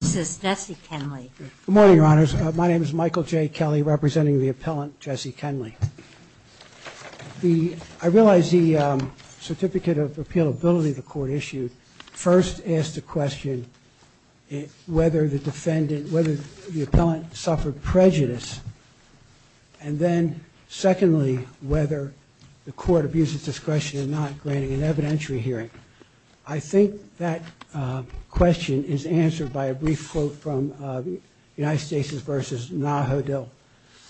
Good morning, Your Honors. My name is Michael J. Kenley, representing the appellant Jesse Kenley. I realize the certificate of appealability the court issued first asked the question whether the defendant, whether the appellant suffered prejudice, and then secondly, whether the court abuses discretion in not granting an evidentiary hearing. I think that question is answered by a brief quote from United States v. Nahudel.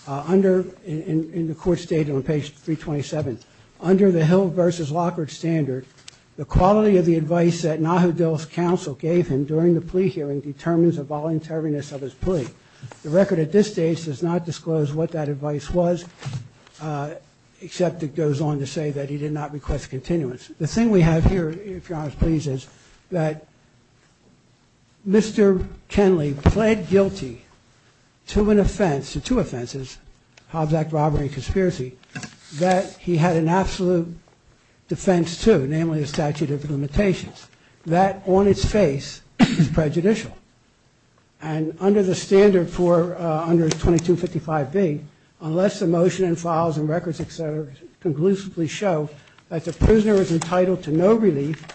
Under, in the court statement on page 327, under the Hill v. Lockhart standard, the quality of the advice that Nahudel's counsel gave him during the plea hearing determines the voluntariness of his plea. The record at this stage does not disclose what that advice was, except it goes on to say that he did not request continuance. The thing we have here, if Your Honors please, is that Mr. Kenley pled guilty to an offense, to two offenses, Hobbs Act robbery and conspiracy, that he had an absolute defense to, namely a statute of limitations. That on its face is prejudicial. And under the standard for, under 2255B, unless the motion and files and records, et cetera, conclusively show that the prisoner is entitled to no relief,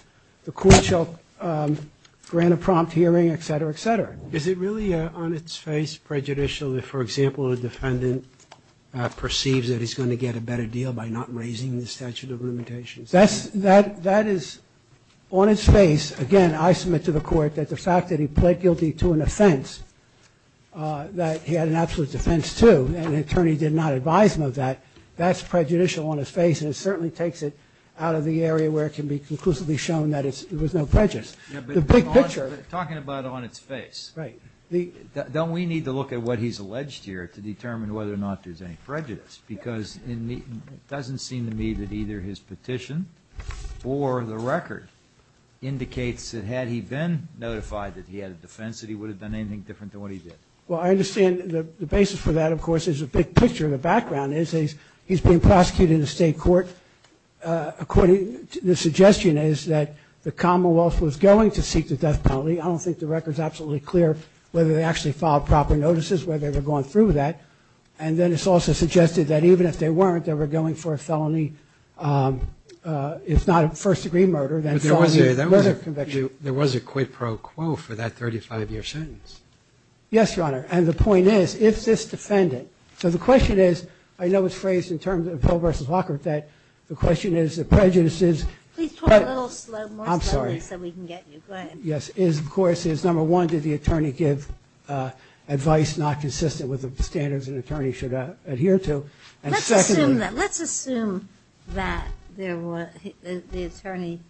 the court shall grant a prompt hearing, et cetera, et cetera. Is it really on its face prejudicial if, for example, a defendant perceives that he's going to get a better deal by not raising the statute of limitations? That is on its face. Again, I submit to the court that the fact that he pled guilty to an offense, that he had an absolute defense to, and an attorney did not advise him of that, that's prejudicial on its face, and it certainly takes it out of the area where it can be conclusively shown that it was no prejudice. The big picture of it. But talking about on its face. Right. Don't we need to look at what he's alleged here to determine whether or not there's any prejudice? Because it doesn't seem to me that either his petition or the record indicates that, had he been notified that he had a defense, that he would have done anything different than what he did. Well, I understand the basis for that, of course, is a big picture. The background is he's being prosecuted in the state court. The suggestion is that the Commonwealth was going to seek the death penalty. I don't think the record is absolutely clear whether they actually filed proper notices, whether they were going through with that. And then it's also suggested that even if they weren't, they were going for a felony. It's not a first-degree murder. There was a quid pro quo for that 35-year sentence. Yes, Your Honor. And the point is, if this defendant. So the question is, I know it's phrased in terms of Hill v. Walker that the question is, the prejudice is. Please talk a little more slowly so we can get you. Go ahead. Yes, of course. Number one, did the attorney give advice not consistent with the standards an attorney should adhere to? And secondly. Let's assume that the attorney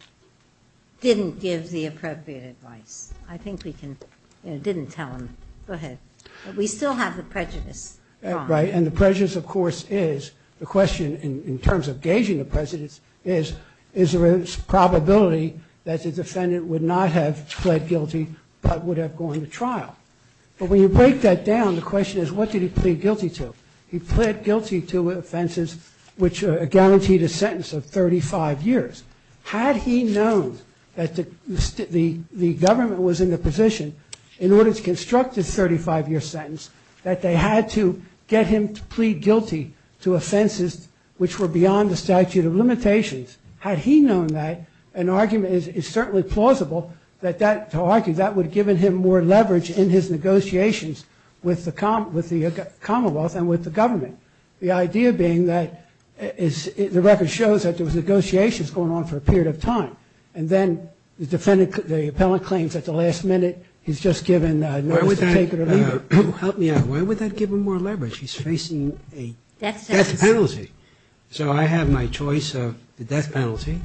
didn't give the appropriate advice. I think we can. Didn't tell him. Go ahead. We still have the prejudice. Right. And the prejudice, of course, is the question in terms of gauging the prejudice is, is there a probability that the defendant would not have pled guilty but would have gone to trial? But when you break that down, the question is, what did he plead guilty to? He pled guilty to offenses which guaranteed a sentence of 35 years. Had he known that the government was in the position, in order to construct a 35-year sentence, that they had to get him to plead guilty to offenses which were beyond the statute of limitations, had he known that, an argument is certainly plausible to argue that would have given him more leverage in his negotiations with the Commonwealth and with the government. The idea being that the record shows that there was negotiations going on for a period of time and then the defendant, the appellant, claims at the last minute he's just given notice of sacred allegiance. Help me out. Why would that give him more leverage? He's facing a death penalty. So I have my choice of the death penalty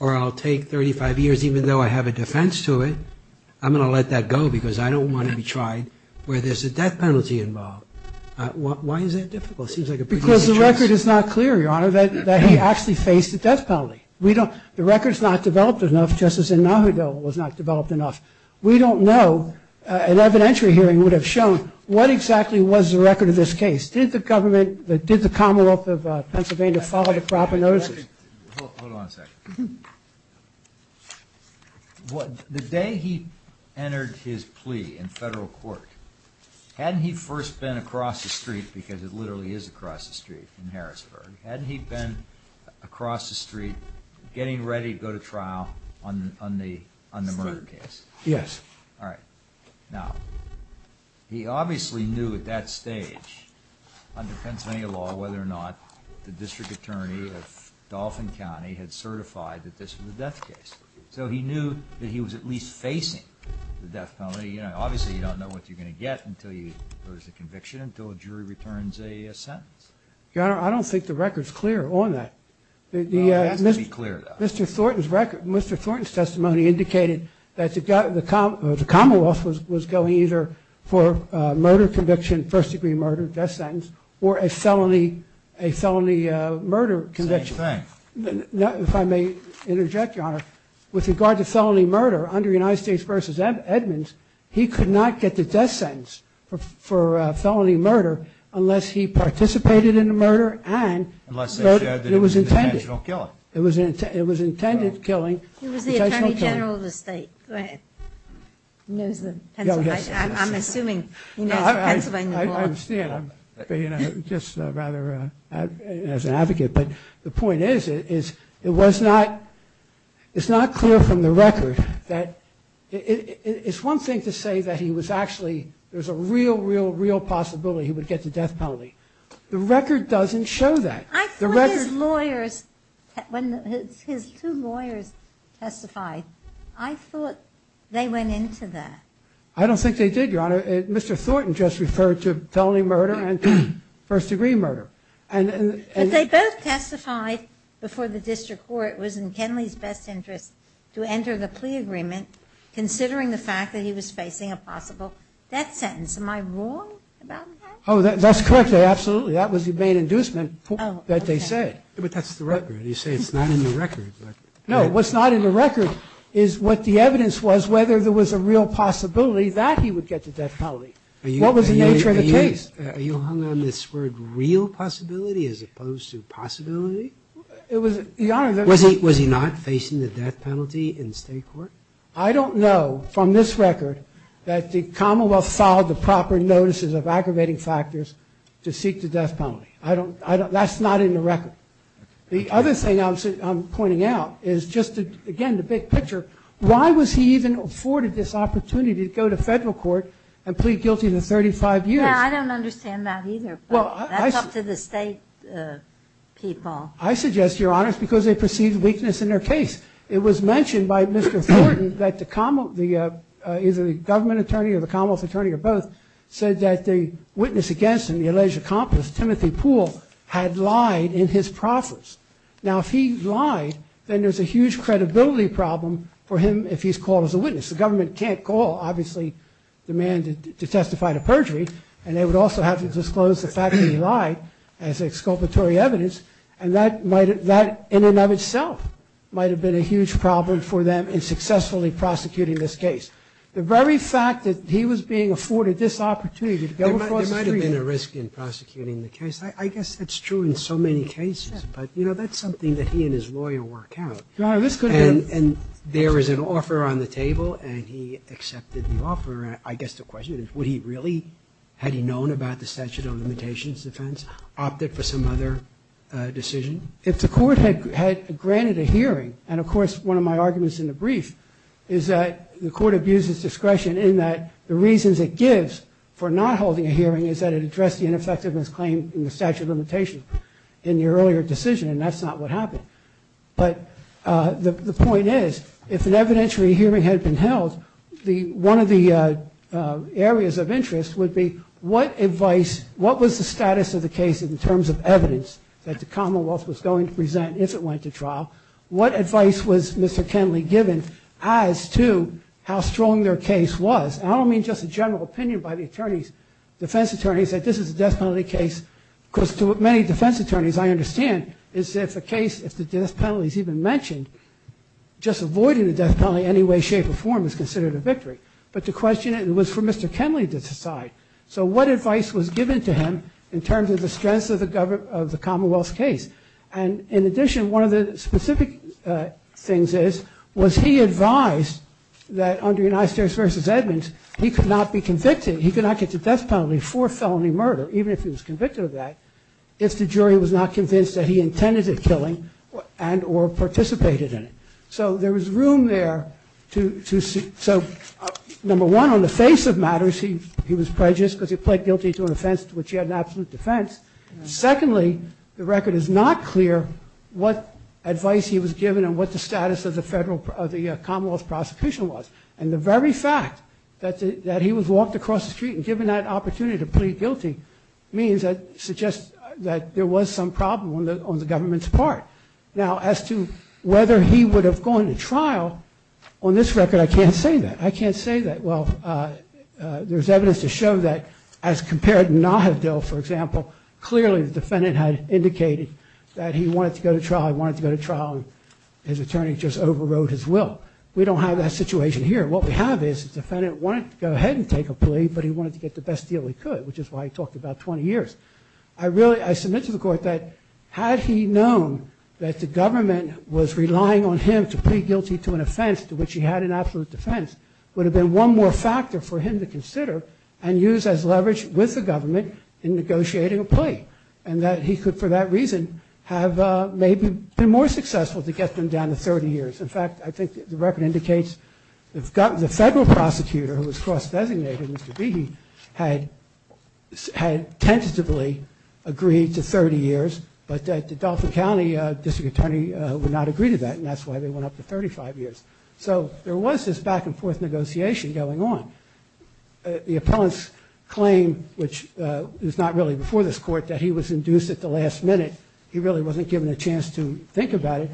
or I'll take 35 years even though I have a defense to it. I'm going to let that go because I don't want to be tried where there's a death penalty involved. Why is that difficult? It seems like a pretty easy choice. Because the record is not clear, Your Honor, that he actually faced a death penalty. The record is not developed enough, just as in Nahuatl was not developed enough. We don't know. An evidentiary hearing would have shown what exactly was the record of this case. Did the Commonwealth of Pennsylvania follow the proper notices? Hold on a second. The day he entered his plea in federal court, hadn't he first been across the street, because it literally is across the street in Harrisburg, hadn't he been across the street getting ready to go to trial on the Murrah case? Yes. All right. Now, he obviously knew at that stage under Pennsylvania law whether or not the district attorney of Dauphin County had certified that this was a death case. So he knew that he was at least facing the death penalty. Obviously, you don't know what you're going to get until there's a conviction, until a jury returns a sentence. Your Honor, I don't think the record is clear on that. It has to be clear, though. Mr. Thornton's testimony indicated that the Commonwealth was going either for murder conviction, first-degree murder, death sentence, or a felony murder conviction. Same thing. If I may interject, Your Honor, with regard to felony murder, under United States v. Edmonds, he could not get the death sentence for felony murder unless he participated in the murder and Unless they said it was an intentional killing. It was intended killing. He was the Attorney General of the state. Go ahead. I'm assuming he knows Pennsylvania law. I understand. I'm just rather as an advocate. But the point is, it's not clear from the record that it's one thing to say that he was actually, there's a real, real, real possibility he would get the death penalty. The record doesn't show that. I thought his lawyers, when his two lawyers testified, I thought they went into that. I don't think they did, Your Honor. Mr. Thornton just referred to felony murder and first-degree murder. But they both testified before the district court was in Kenley's best interest to enter the plea agreement considering the fact that he was facing a possible death sentence. Am I wrong about that? Oh, that's correct. Absolutely. That was the main inducement that they said. But that's the record. You say it's not in the record. No, what's not in the record is what the evidence was, whether there was a real possibility that he would get the death penalty. What was the nature of the case? Are you hung on this word real possibility as opposed to possibility? It was, Your Honor, the Was he not facing the death penalty in state court? I don't know from this record that the Commonwealth filed the proper notices of aggravating factors to seek the death penalty. That's not in the record. The other thing I'm pointing out is just, again, the big picture, why was he even afforded this opportunity to go to federal court and plead guilty to 35 years? Yeah, I don't understand that either, but that's up to the state people. I suggest, Your Honor, it's because they perceived weakness in their case. It was mentioned by Mr. Thornton that either the government attorney or the Commonwealth attorney or both said that the witness against him, the alleged accomplice, Timothy Poole, had lied in his profits. Now, if he lied, then there's a huge credibility problem for him if he's called as a witness. The government can't call, obviously, the man to testify to perjury, and they would also have to disclose the fact that he lied as exculpatory evidence, and that in and of itself might have been a huge problem for them in successfully prosecuting this case. The very fact that he was being afforded this opportunity to go across the street... There might have been a risk in prosecuting the case. I guess that's true in so many cases, but, you know, that's something that he and his lawyer work out. Your Honor, this could have... And there is an offer on the table, and he accepted the offer. I guess the question is, would he really, had he known about the statute of limitations defense, opted for some other decision? If the court had granted a hearing, and, of course, one of my arguments in the brief is that the court abuses discretion in that the reasons it gives for not holding a hearing is that it addressed the ineffectiveness claim in the statute of limitations in the earlier decision, and that's not what happened. But the point is, if an evidentiary hearing had been held, one of the areas of interest would be what advice, what was the status of the case in terms of evidence that the Commonwealth was going to present if it went to trial? What advice was Mr. Kenley given as to how strong their case was? And I don't mean just a general opinion by the attorneys, defense attorneys, that this is a death penalty case. Of course, to many defense attorneys, I understand, is if the case, if the death penalty is even mentioned, just avoiding the death penalty in any way, shape, or form is considered a victory. But the question was for Mr. Kenley to decide. So what advice was given to him in terms of the strengths of the Commonwealth's case? And in addition, one of the specific things is, was he advised that under United States v. Edmonds, he could not be convicted, he could not get the death penalty for felony murder, even if he was convicted of that, if the jury was not convinced that he intended the killing and or participated in it. So there was room there to see. So number one, on the face of matters, he was prejudiced because he pled guilty to an offense to which he had an absolute defense. Secondly, the record is not clear what advice he was given and what the status of the Commonwealth's prosecution was. And the very fact that he was walked across the street and given that opportunity to plead guilty means that suggests that there was some problem on the government's part. Now, as to whether he would have gone to trial, on this record, I can't say that. I can't say that. Well, there's evidence to show that as compared to Naheed Dale, for example, clearly the defendant had indicated that he wanted to go to trial, he wanted to go to trial, and his attorney just overrode his will. We don't have that situation here. What we have is the defendant wanted to go ahead and take a plea, but he wanted to get the best deal he could, which is why he talked about 20 years. I submit to the Court that had he known that the government was relying on him to plead guilty to an offense to which he had an absolute defense would have been one more factor for him to consider and use as leverage with the government in negotiating a plea, and that he could for that reason have maybe been more successful to get them down to 30 years. In fact, I think the record indicates the federal prosecutor who was cross-designated, Mr. Behe, had tentatively agreed to 30 years, but the Dauphin County District Attorney would not agree to that, and that's why they went up to 35 years. So there was this back-and-forth negotiation going on. The appellant's claim, which is not really before this Court, that he was induced at the last minute, he really wasn't given a chance to think about it.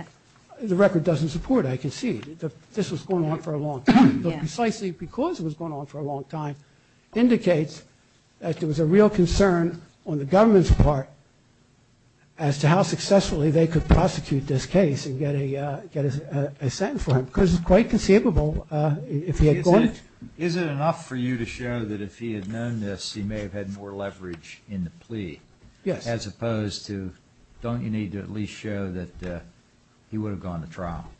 The record doesn't support it, I concede. This was going on for a long time, but precisely because it was going on for a long time indicates that there was a real concern on the government's part as to how successfully they could prosecute this case and get a sentence for him, because it's quite conceivable if he had gone... Is it enough for you to show that if he had known this, he may have had more leverage in the plea? Yes. As opposed to, don't you need to at least show that he would have gone to trial?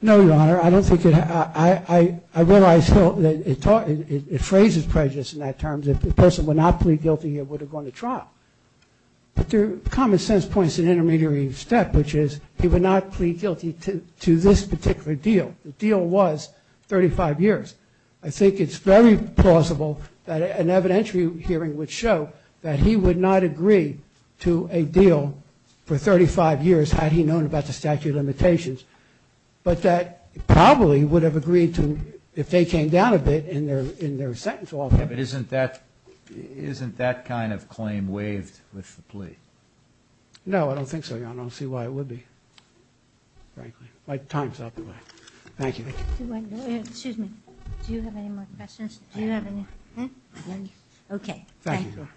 No, Your Honor. I don't think it... I realize that it phrases prejudice in that terms. If the person would not plead guilty, he would have gone to trial. But there are common-sense points in the intermediary step, which is he would not plead guilty to this particular deal. The deal was 35 years. I think it's very plausible that an evidentiary hearing would show that he would not agree to a deal for 35 years had he known about the statute of limitations, but that he probably would have agreed to if they came down a bit in their sentence altogether. But isn't that kind of claim waived with the plea? No, I don't think so, Your Honor. I don't see why it would be, frankly. My time's up. Thank you. Excuse me. Do you have any more questions? Do you have any... Okay. Thank you, Your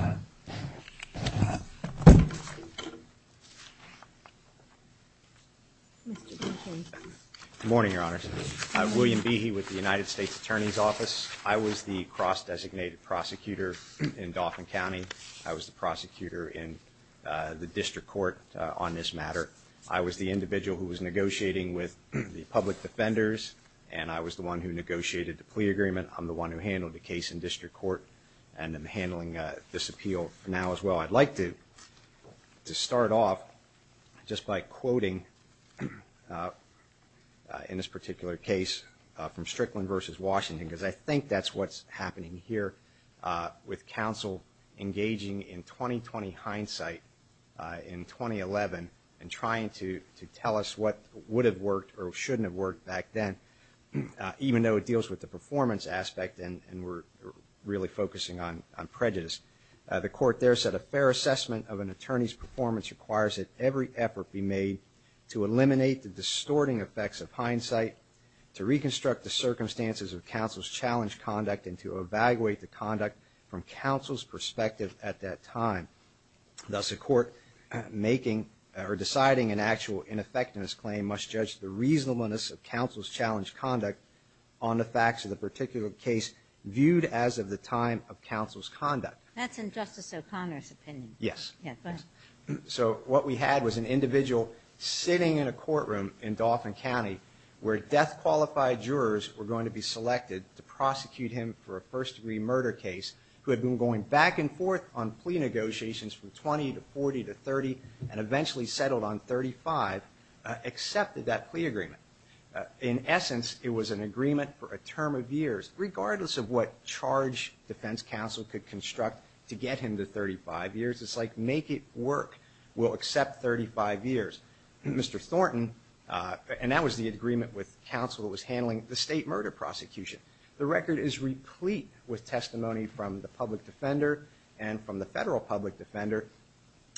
Honor. Good morning, Your Honors. I'm William Behe with the United States Attorney's Office. I was the cross-designated prosecutor in Dauphin County. I was the prosecutor in the district court on this matter. I was the individual who was negotiating with the public defenders, and I was the one who negotiated the plea agreement. I'm the one who handled the case in district court and am handling this appeal now as well. So I'd like to start off just by quoting, in this particular case, from Strickland v. Washington because I think that's what's happening here with counsel engaging in 20-20 hindsight in 2011 and trying to tell us what would have worked or shouldn't have worked back then, even though it deals with the performance aspect and we're really focusing on prejudice. The court there said, A fair assessment of an attorney's performance requires that every effort be made to eliminate the distorting effects of hindsight, to reconstruct the circumstances of counsel's challenged conduct, and to evaluate the conduct from counsel's perspective at that time. Thus, a court deciding an actual ineffectiveness claim must judge the reasonableness of counsel's challenged conduct on the facts of the particular case viewed as of the time of counsel's conduct. That's in Justice O'Connor's opinion. Yes. Go ahead. So what we had was an individual sitting in a courtroom in Dauphin County where death-qualified jurors were going to be selected to prosecute him for a first-degree murder case who had been going back and forth on plea negotiations from 20 to 40 to 30 and eventually settled on 35, In essence, it was an agreement for a term of years, regardless of what charge defense counsel could construct to get him to 35 years. It's like make it work. We'll accept 35 years. Mr. Thornton, and that was the agreement with counsel that was handling the state murder prosecution. The record is replete with testimony from the public defender and from the federal public defender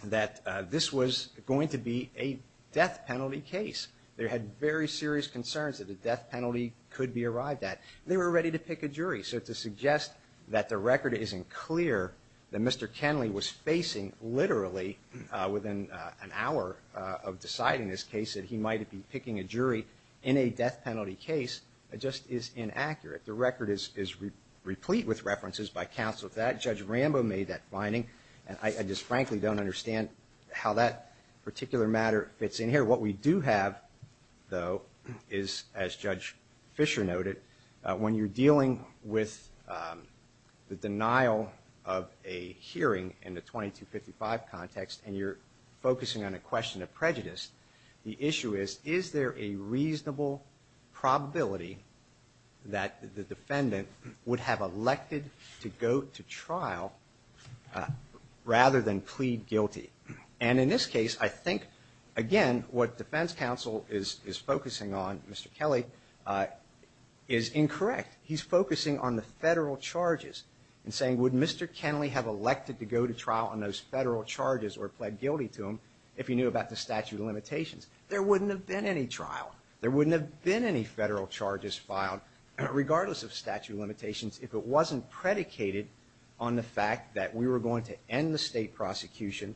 that this was going to be a death penalty case. They had very serious concerns that a death penalty could be arrived at. They were ready to pick a jury. So to suggest that the record isn't clear that Mr. Kenley was facing literally within an hour of deciding this case that he might be picking a jury in a death penalty case just is inaccurate. The record is replete with references by counsel to that. Judge Rambo made that finding. I just frankly don't understand how that particular matter fits in here. What we do have, though, is, as Judge Fisher noted, when you're dealing with the denial of a hearing in the 2255 context and you're focusing on a question of prejudice, the issue is, is there a reasonable probability that the defendant would have elected to go to trial rather than plead guilty? And in this case, I think, again, what defense counsel is focusing on, Mr. Kelly, is incorrect. He's focusing on the federal charges and saying, would Mr. Kenley have elected to go to trial on those federal charges or plead guilty to them if he knew about the statute of limitations? There wouldn't have been any trial. There wouldn't have been any federal charges filed regardless of statute of limitations if it wasn't predicated on the fact that we were going to end the state prosecution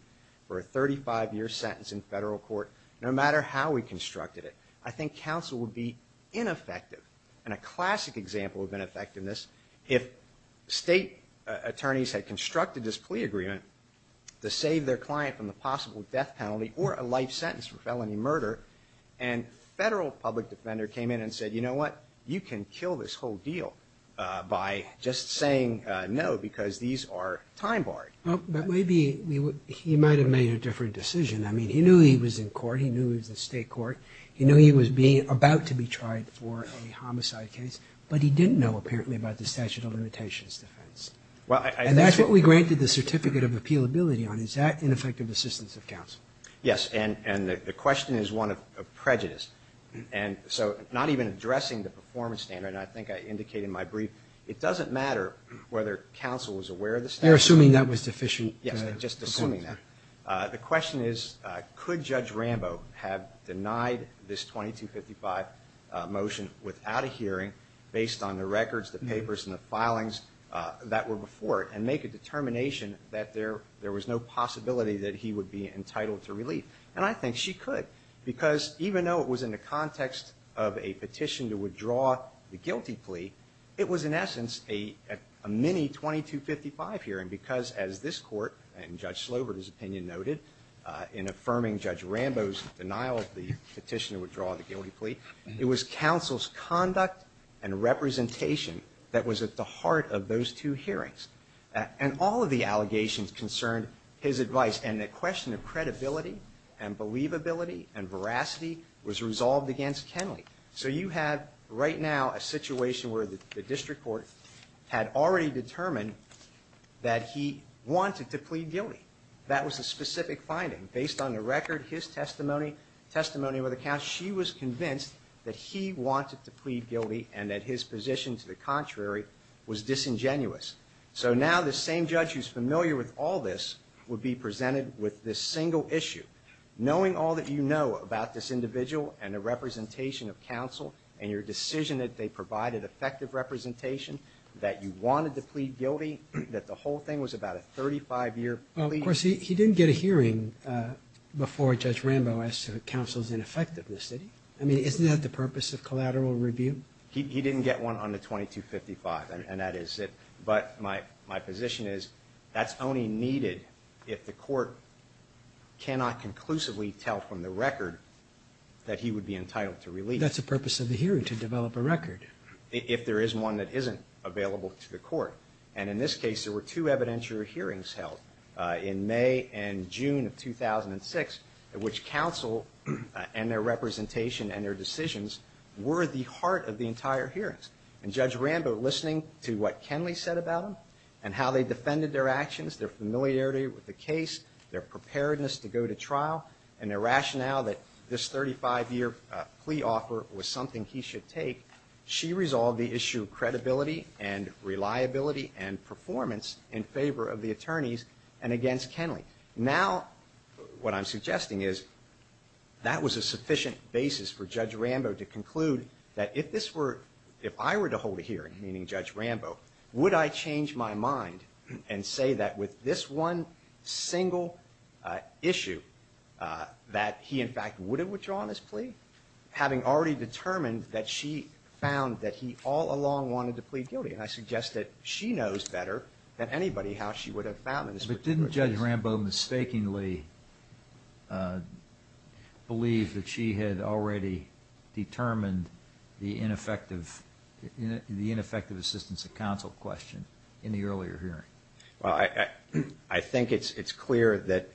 for a 35-year sentence in federal court no matter how we constructed it. I think counsel would be ineffective, and a classic example of ineffectiveness, if state attorneys had constructed this plea agreement to save their client from the possible death penalty or a life sentence for felony murder, and a federal public defender came in and said, you know what? You can kill this whole deal by just saying no because these are time-barred. But maybe he might have made a different decision. I mean, he knew he was in court. He knew he was in state court. He knew he was about to be tried for a homicide case, but he didn't know apparently about the statute of limitations defense. And that's what we granted the certificate of appealability on. Is that ineffective assistance of counsel? Yes, and the question is one of prejudice. And so not even addressing the performance standard, and I think I indicated in my brief, it doesn't matter whether counsel is aware of the standard. You're assuming that was deficient. Yes, just assuming that. The question is could Judge Rambo have denied this 2255 motion without a hearing based on the records, the papers, and the filings that were before it and make a determination that there was no possibility that he would be entitled to relief? And I think she could because even though it was in the context of a petition to withdraw the guilty plea, it was in essence a mini-2255 hearing because, as this court and Judge Slobert's opinion noted in affirming Judge Rambo's denial of the petition to withdraw the guilty plea, it was counsel's conduct and representation that was at the heart of those two hearings. And all of the allegations concerned his advice, and the question of credibility and believability and veracity was resolved against Kenley. So you have right now a situation where the district court had already determined that he wanted to plead guilty. That was a specific finding. Based on the record, his testimony, testimony with the counsel, she was convinced that he wanted to plead guilty and that his position to the contrary was disingenuous. So now the same judge who's familiar with all this would be presented with this single issue. Knowing all that you know about this individual and the representation of counsel and your decision that they provided effective representation, that you wanted to plead guilty, that the whole thing was about a 35-year plea. Well, of course, he didn't get a hearing before Judge Rambo asked for counsel's ineffectiveness, did he? I mean, isn't that the purpose of collateral review? He didn't get one on the 2255, and that is it. But my position is that's only needed if the court cannot conclusively tell from the record that he would be entitled to release. That's the purpose of the hearing, to develop a record. If there is one that isn't available to the court. And in this case, there were two evidentiary hearings held in May and June of 2006, at which counsel and their representation and their decisions were at the heart of the entire hearings. And Judge Rambo, listening to what Kenley said about them and how they defended their actions, their familiarity with the case, their preparedness to go to trial, and their rationale that this 35-year plea offer was something he should take, she resolved the issue of credibility and reliability and performance in favor of the attorneys and against Kenley. Now, what I'm suggesting is that was a sufficient basis for Judge Rambo to conclude that if this were, if I were to hold a hearing, meaning Judge Rambo, would I change my mind and say that with this one single issue, that he, in fact, would have withdrawn his plea? Having already determined that she found that he all along wanted to plead guilty. And I suggest that she knows better than anybody how she would have found this. But didn't Judge Rambo mistakenly believe that she had already determined the ineffective assistance of counsel question in the earlier hearing? Well, I think it's clear that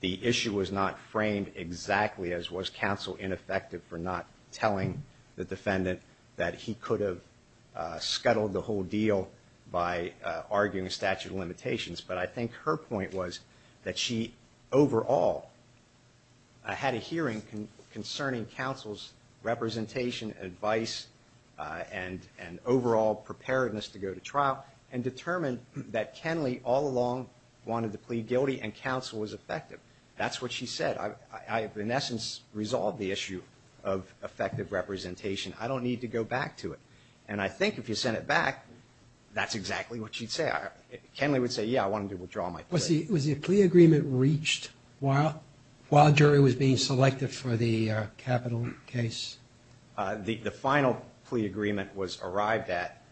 the issue was not framed exactly as was counsel ineffective for not telling the defendant that he could have scuttled the whole deal by arguing a statute of limitations. But I think her point was that she overall had a hearing concerning counsel's representation, advice, and overall preparedness to go to trial and determined that Kenley all along wanted to plead guilty and counsel was effective. That's what she said. I have, in essence, resolved the issue of effective representation. I don't need to go back to it. And I think if you sent it back, that's exactly what she'd say. Kenley would say, yeah, I wanted to withdraw my plea. Was the plea agreement reached while a jury was being selected for the capital case? The final plea agreement was arrived at.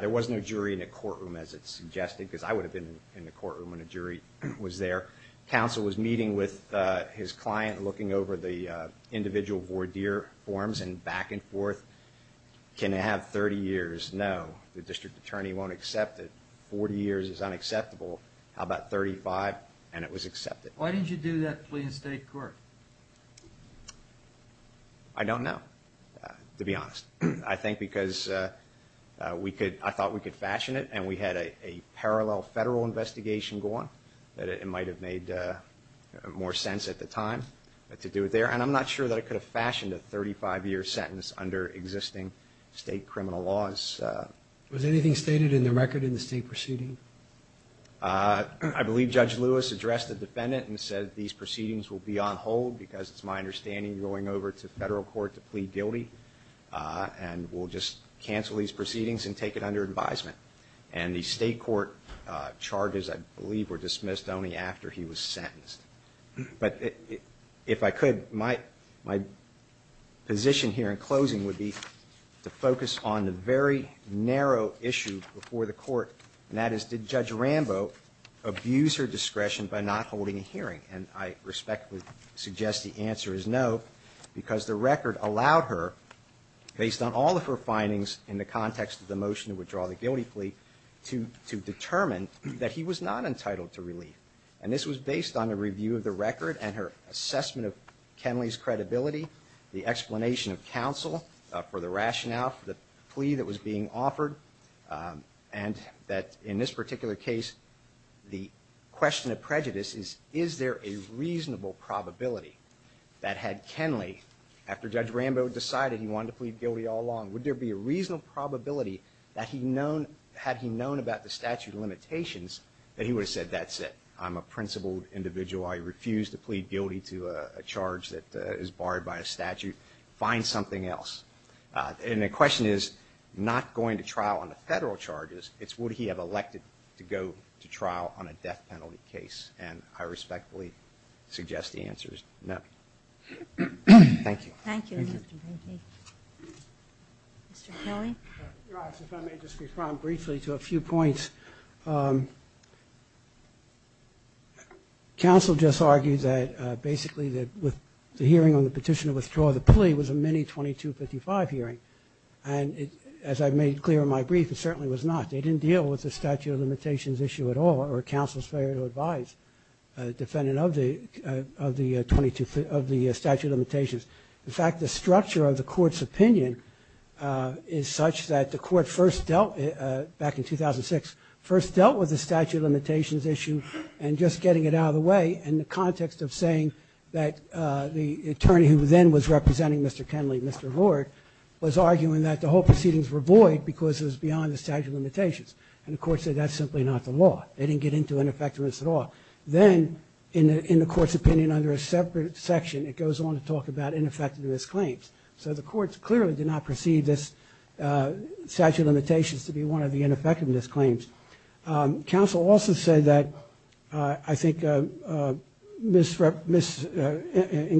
There was no jury in the courtroom, as it suggested, because I would have been in the courtroom when a jury was there. Counsel was meeting with his client, looking over the individual voir dire forms and back and forth. Can it have 30 years? No. The district attorney won't accept it. 40 years is unacceptable. How about 35? And it was accepted. Why did you do that plea in state court? I don't know, to be honest. I think because I thought we could fashion it, and we had a parallel federal investigation going, that it might have made more sense at the time to do it there. And I'm not sure that it could have fashioned a 35-year sentence under existing state criminal laws. Was anything stated in the record in the state proceeding? I believe Judge Lewis addressed the defendant and said these proceedings will be on hold, because it's my understanding you're going over to federal court to plead guilty, and we'll just cancel these proceedings and take it under advisement. And the state court charges, I believe, were dismissed only after he was sentenced. But if I could, my position here in closing would be to focus on the very narrow issue before the court, and that is did Judge Rambo abuse her discretion by not holding a hearing? And I respectfully suggest the answer is no, because the record allowed her, based on all of her findings in the context of the motion to withdraw the guilty plea, to determine that he was not entitled to relief. And this was based on a review of the record and her assessment of Kenley's credibility, the explanation of counsel for the rationale for the plea that was being offered, and that in this particular case the question of prejudice is, is there a reasonable probability that had Kenley, after Judge Rambo decided he wanted to plead guilty all along, would there be a reasonable probability that he had known about the statute of limitations that he would have said, that's it, I'm a principled individual. I refuse to plead guilty to a charge that is barred by a statute. Find something else. And the question is not going to trial on the federal charges. It's would he have elected to go to trial on a death penalty case. And I respectfully suggest the answer is no. Thank you. Thank you. Mr. Kenley? If I may just respond briefly to a few points. Counsel just argued that basically the hearing on the petition to withdraw the plea was a mini-2255 hearing. And as I made clear in my brief, it certainly was not. They didn't deal with the statute of limitations issue at all, or counsel's failure to advise a defendant of the statute of limitations. In fact, the structure of the court's opinion is such that the court first dealt, back in 2006, first dealt with the statute of limitations issue and just getting it out of the way in the context of saying that the attorney who then was representing Mr. Kenley, Mr. Ward, was arguing that the whole proceedings were void because it was beyond the statute of limitations. And the court said that's simply not the law. They didn't get into ineffectiveness at all. Then, in the court's opinion under a separate section, it goes on to talk about ineffectiveness claims. So the courts clearly did not perceive this statute of limitations to be one of the ineffectiveness claims. Counsel also said that I think in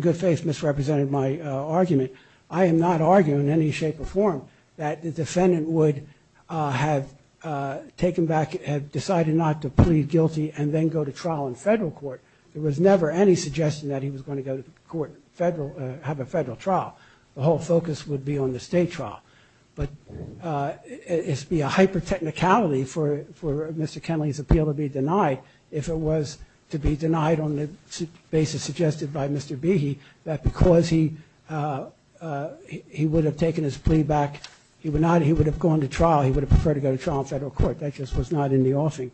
good faith misrepresented my argument. I am not arguing in any shape or form that the defendant would have taken back, had decided not to plead guilty and then go to trial in federal court. There was never any suggestion that he was going to go to court, have a federal trial. The whole focus would be on the state trial. But it would be a hyper-technicality for Mr. Kenley's appeal to be denied if it was to be denied on the basis suggested by Mr. Behe, that because he would have taken his plea back, he would have gone to trial, he would have preferred to go to trial in federal court. That just was not in the offing.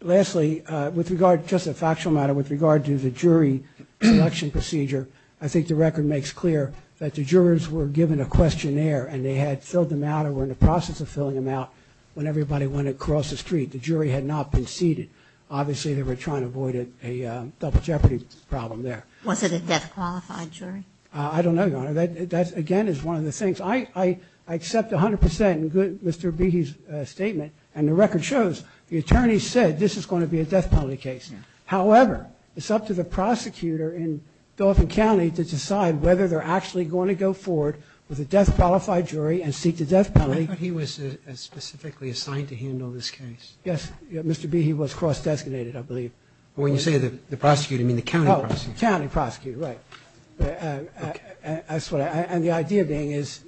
Lastly, with regard, just a factual matter, with regard to the jury selection procedure, I think the record makes clear that the jurors were given a questionnaire and they had filled them out or were in the process of filling them out when everybody went across the street. The jury had not been seated. Obviously, they were trying to avoid a double jeopardy problem there. Was it a death-qualified jury? I don't know, Your Honor. That, again, is one of the things. I accept 100% in Mr. Behe's statement, and the record shows the attorney said this is going to be a death penalty case. However, it's up to the prosecutor in Dauphin County to decide whether they're actually going to go forward with a death-qualified jury and seek the death penalty. I thought he was specifically assigned to handle this case. Yes. Mr. Behe was cross-designated, I believe. When you say the prosecutor, you mean the county prosecutor? Oh, the county prosecutor, right. And the idea being is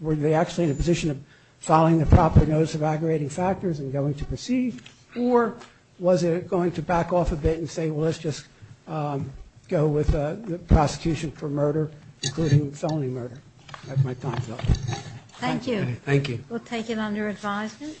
were they actually in a position of filing the proper notice of aggravating factors and going to proceed, or was it going to back off a bit and say, well, let's just go with the prosecution for murder, including felony murder? That's my thought. Thank you. Thank you. We'll take it under advisement.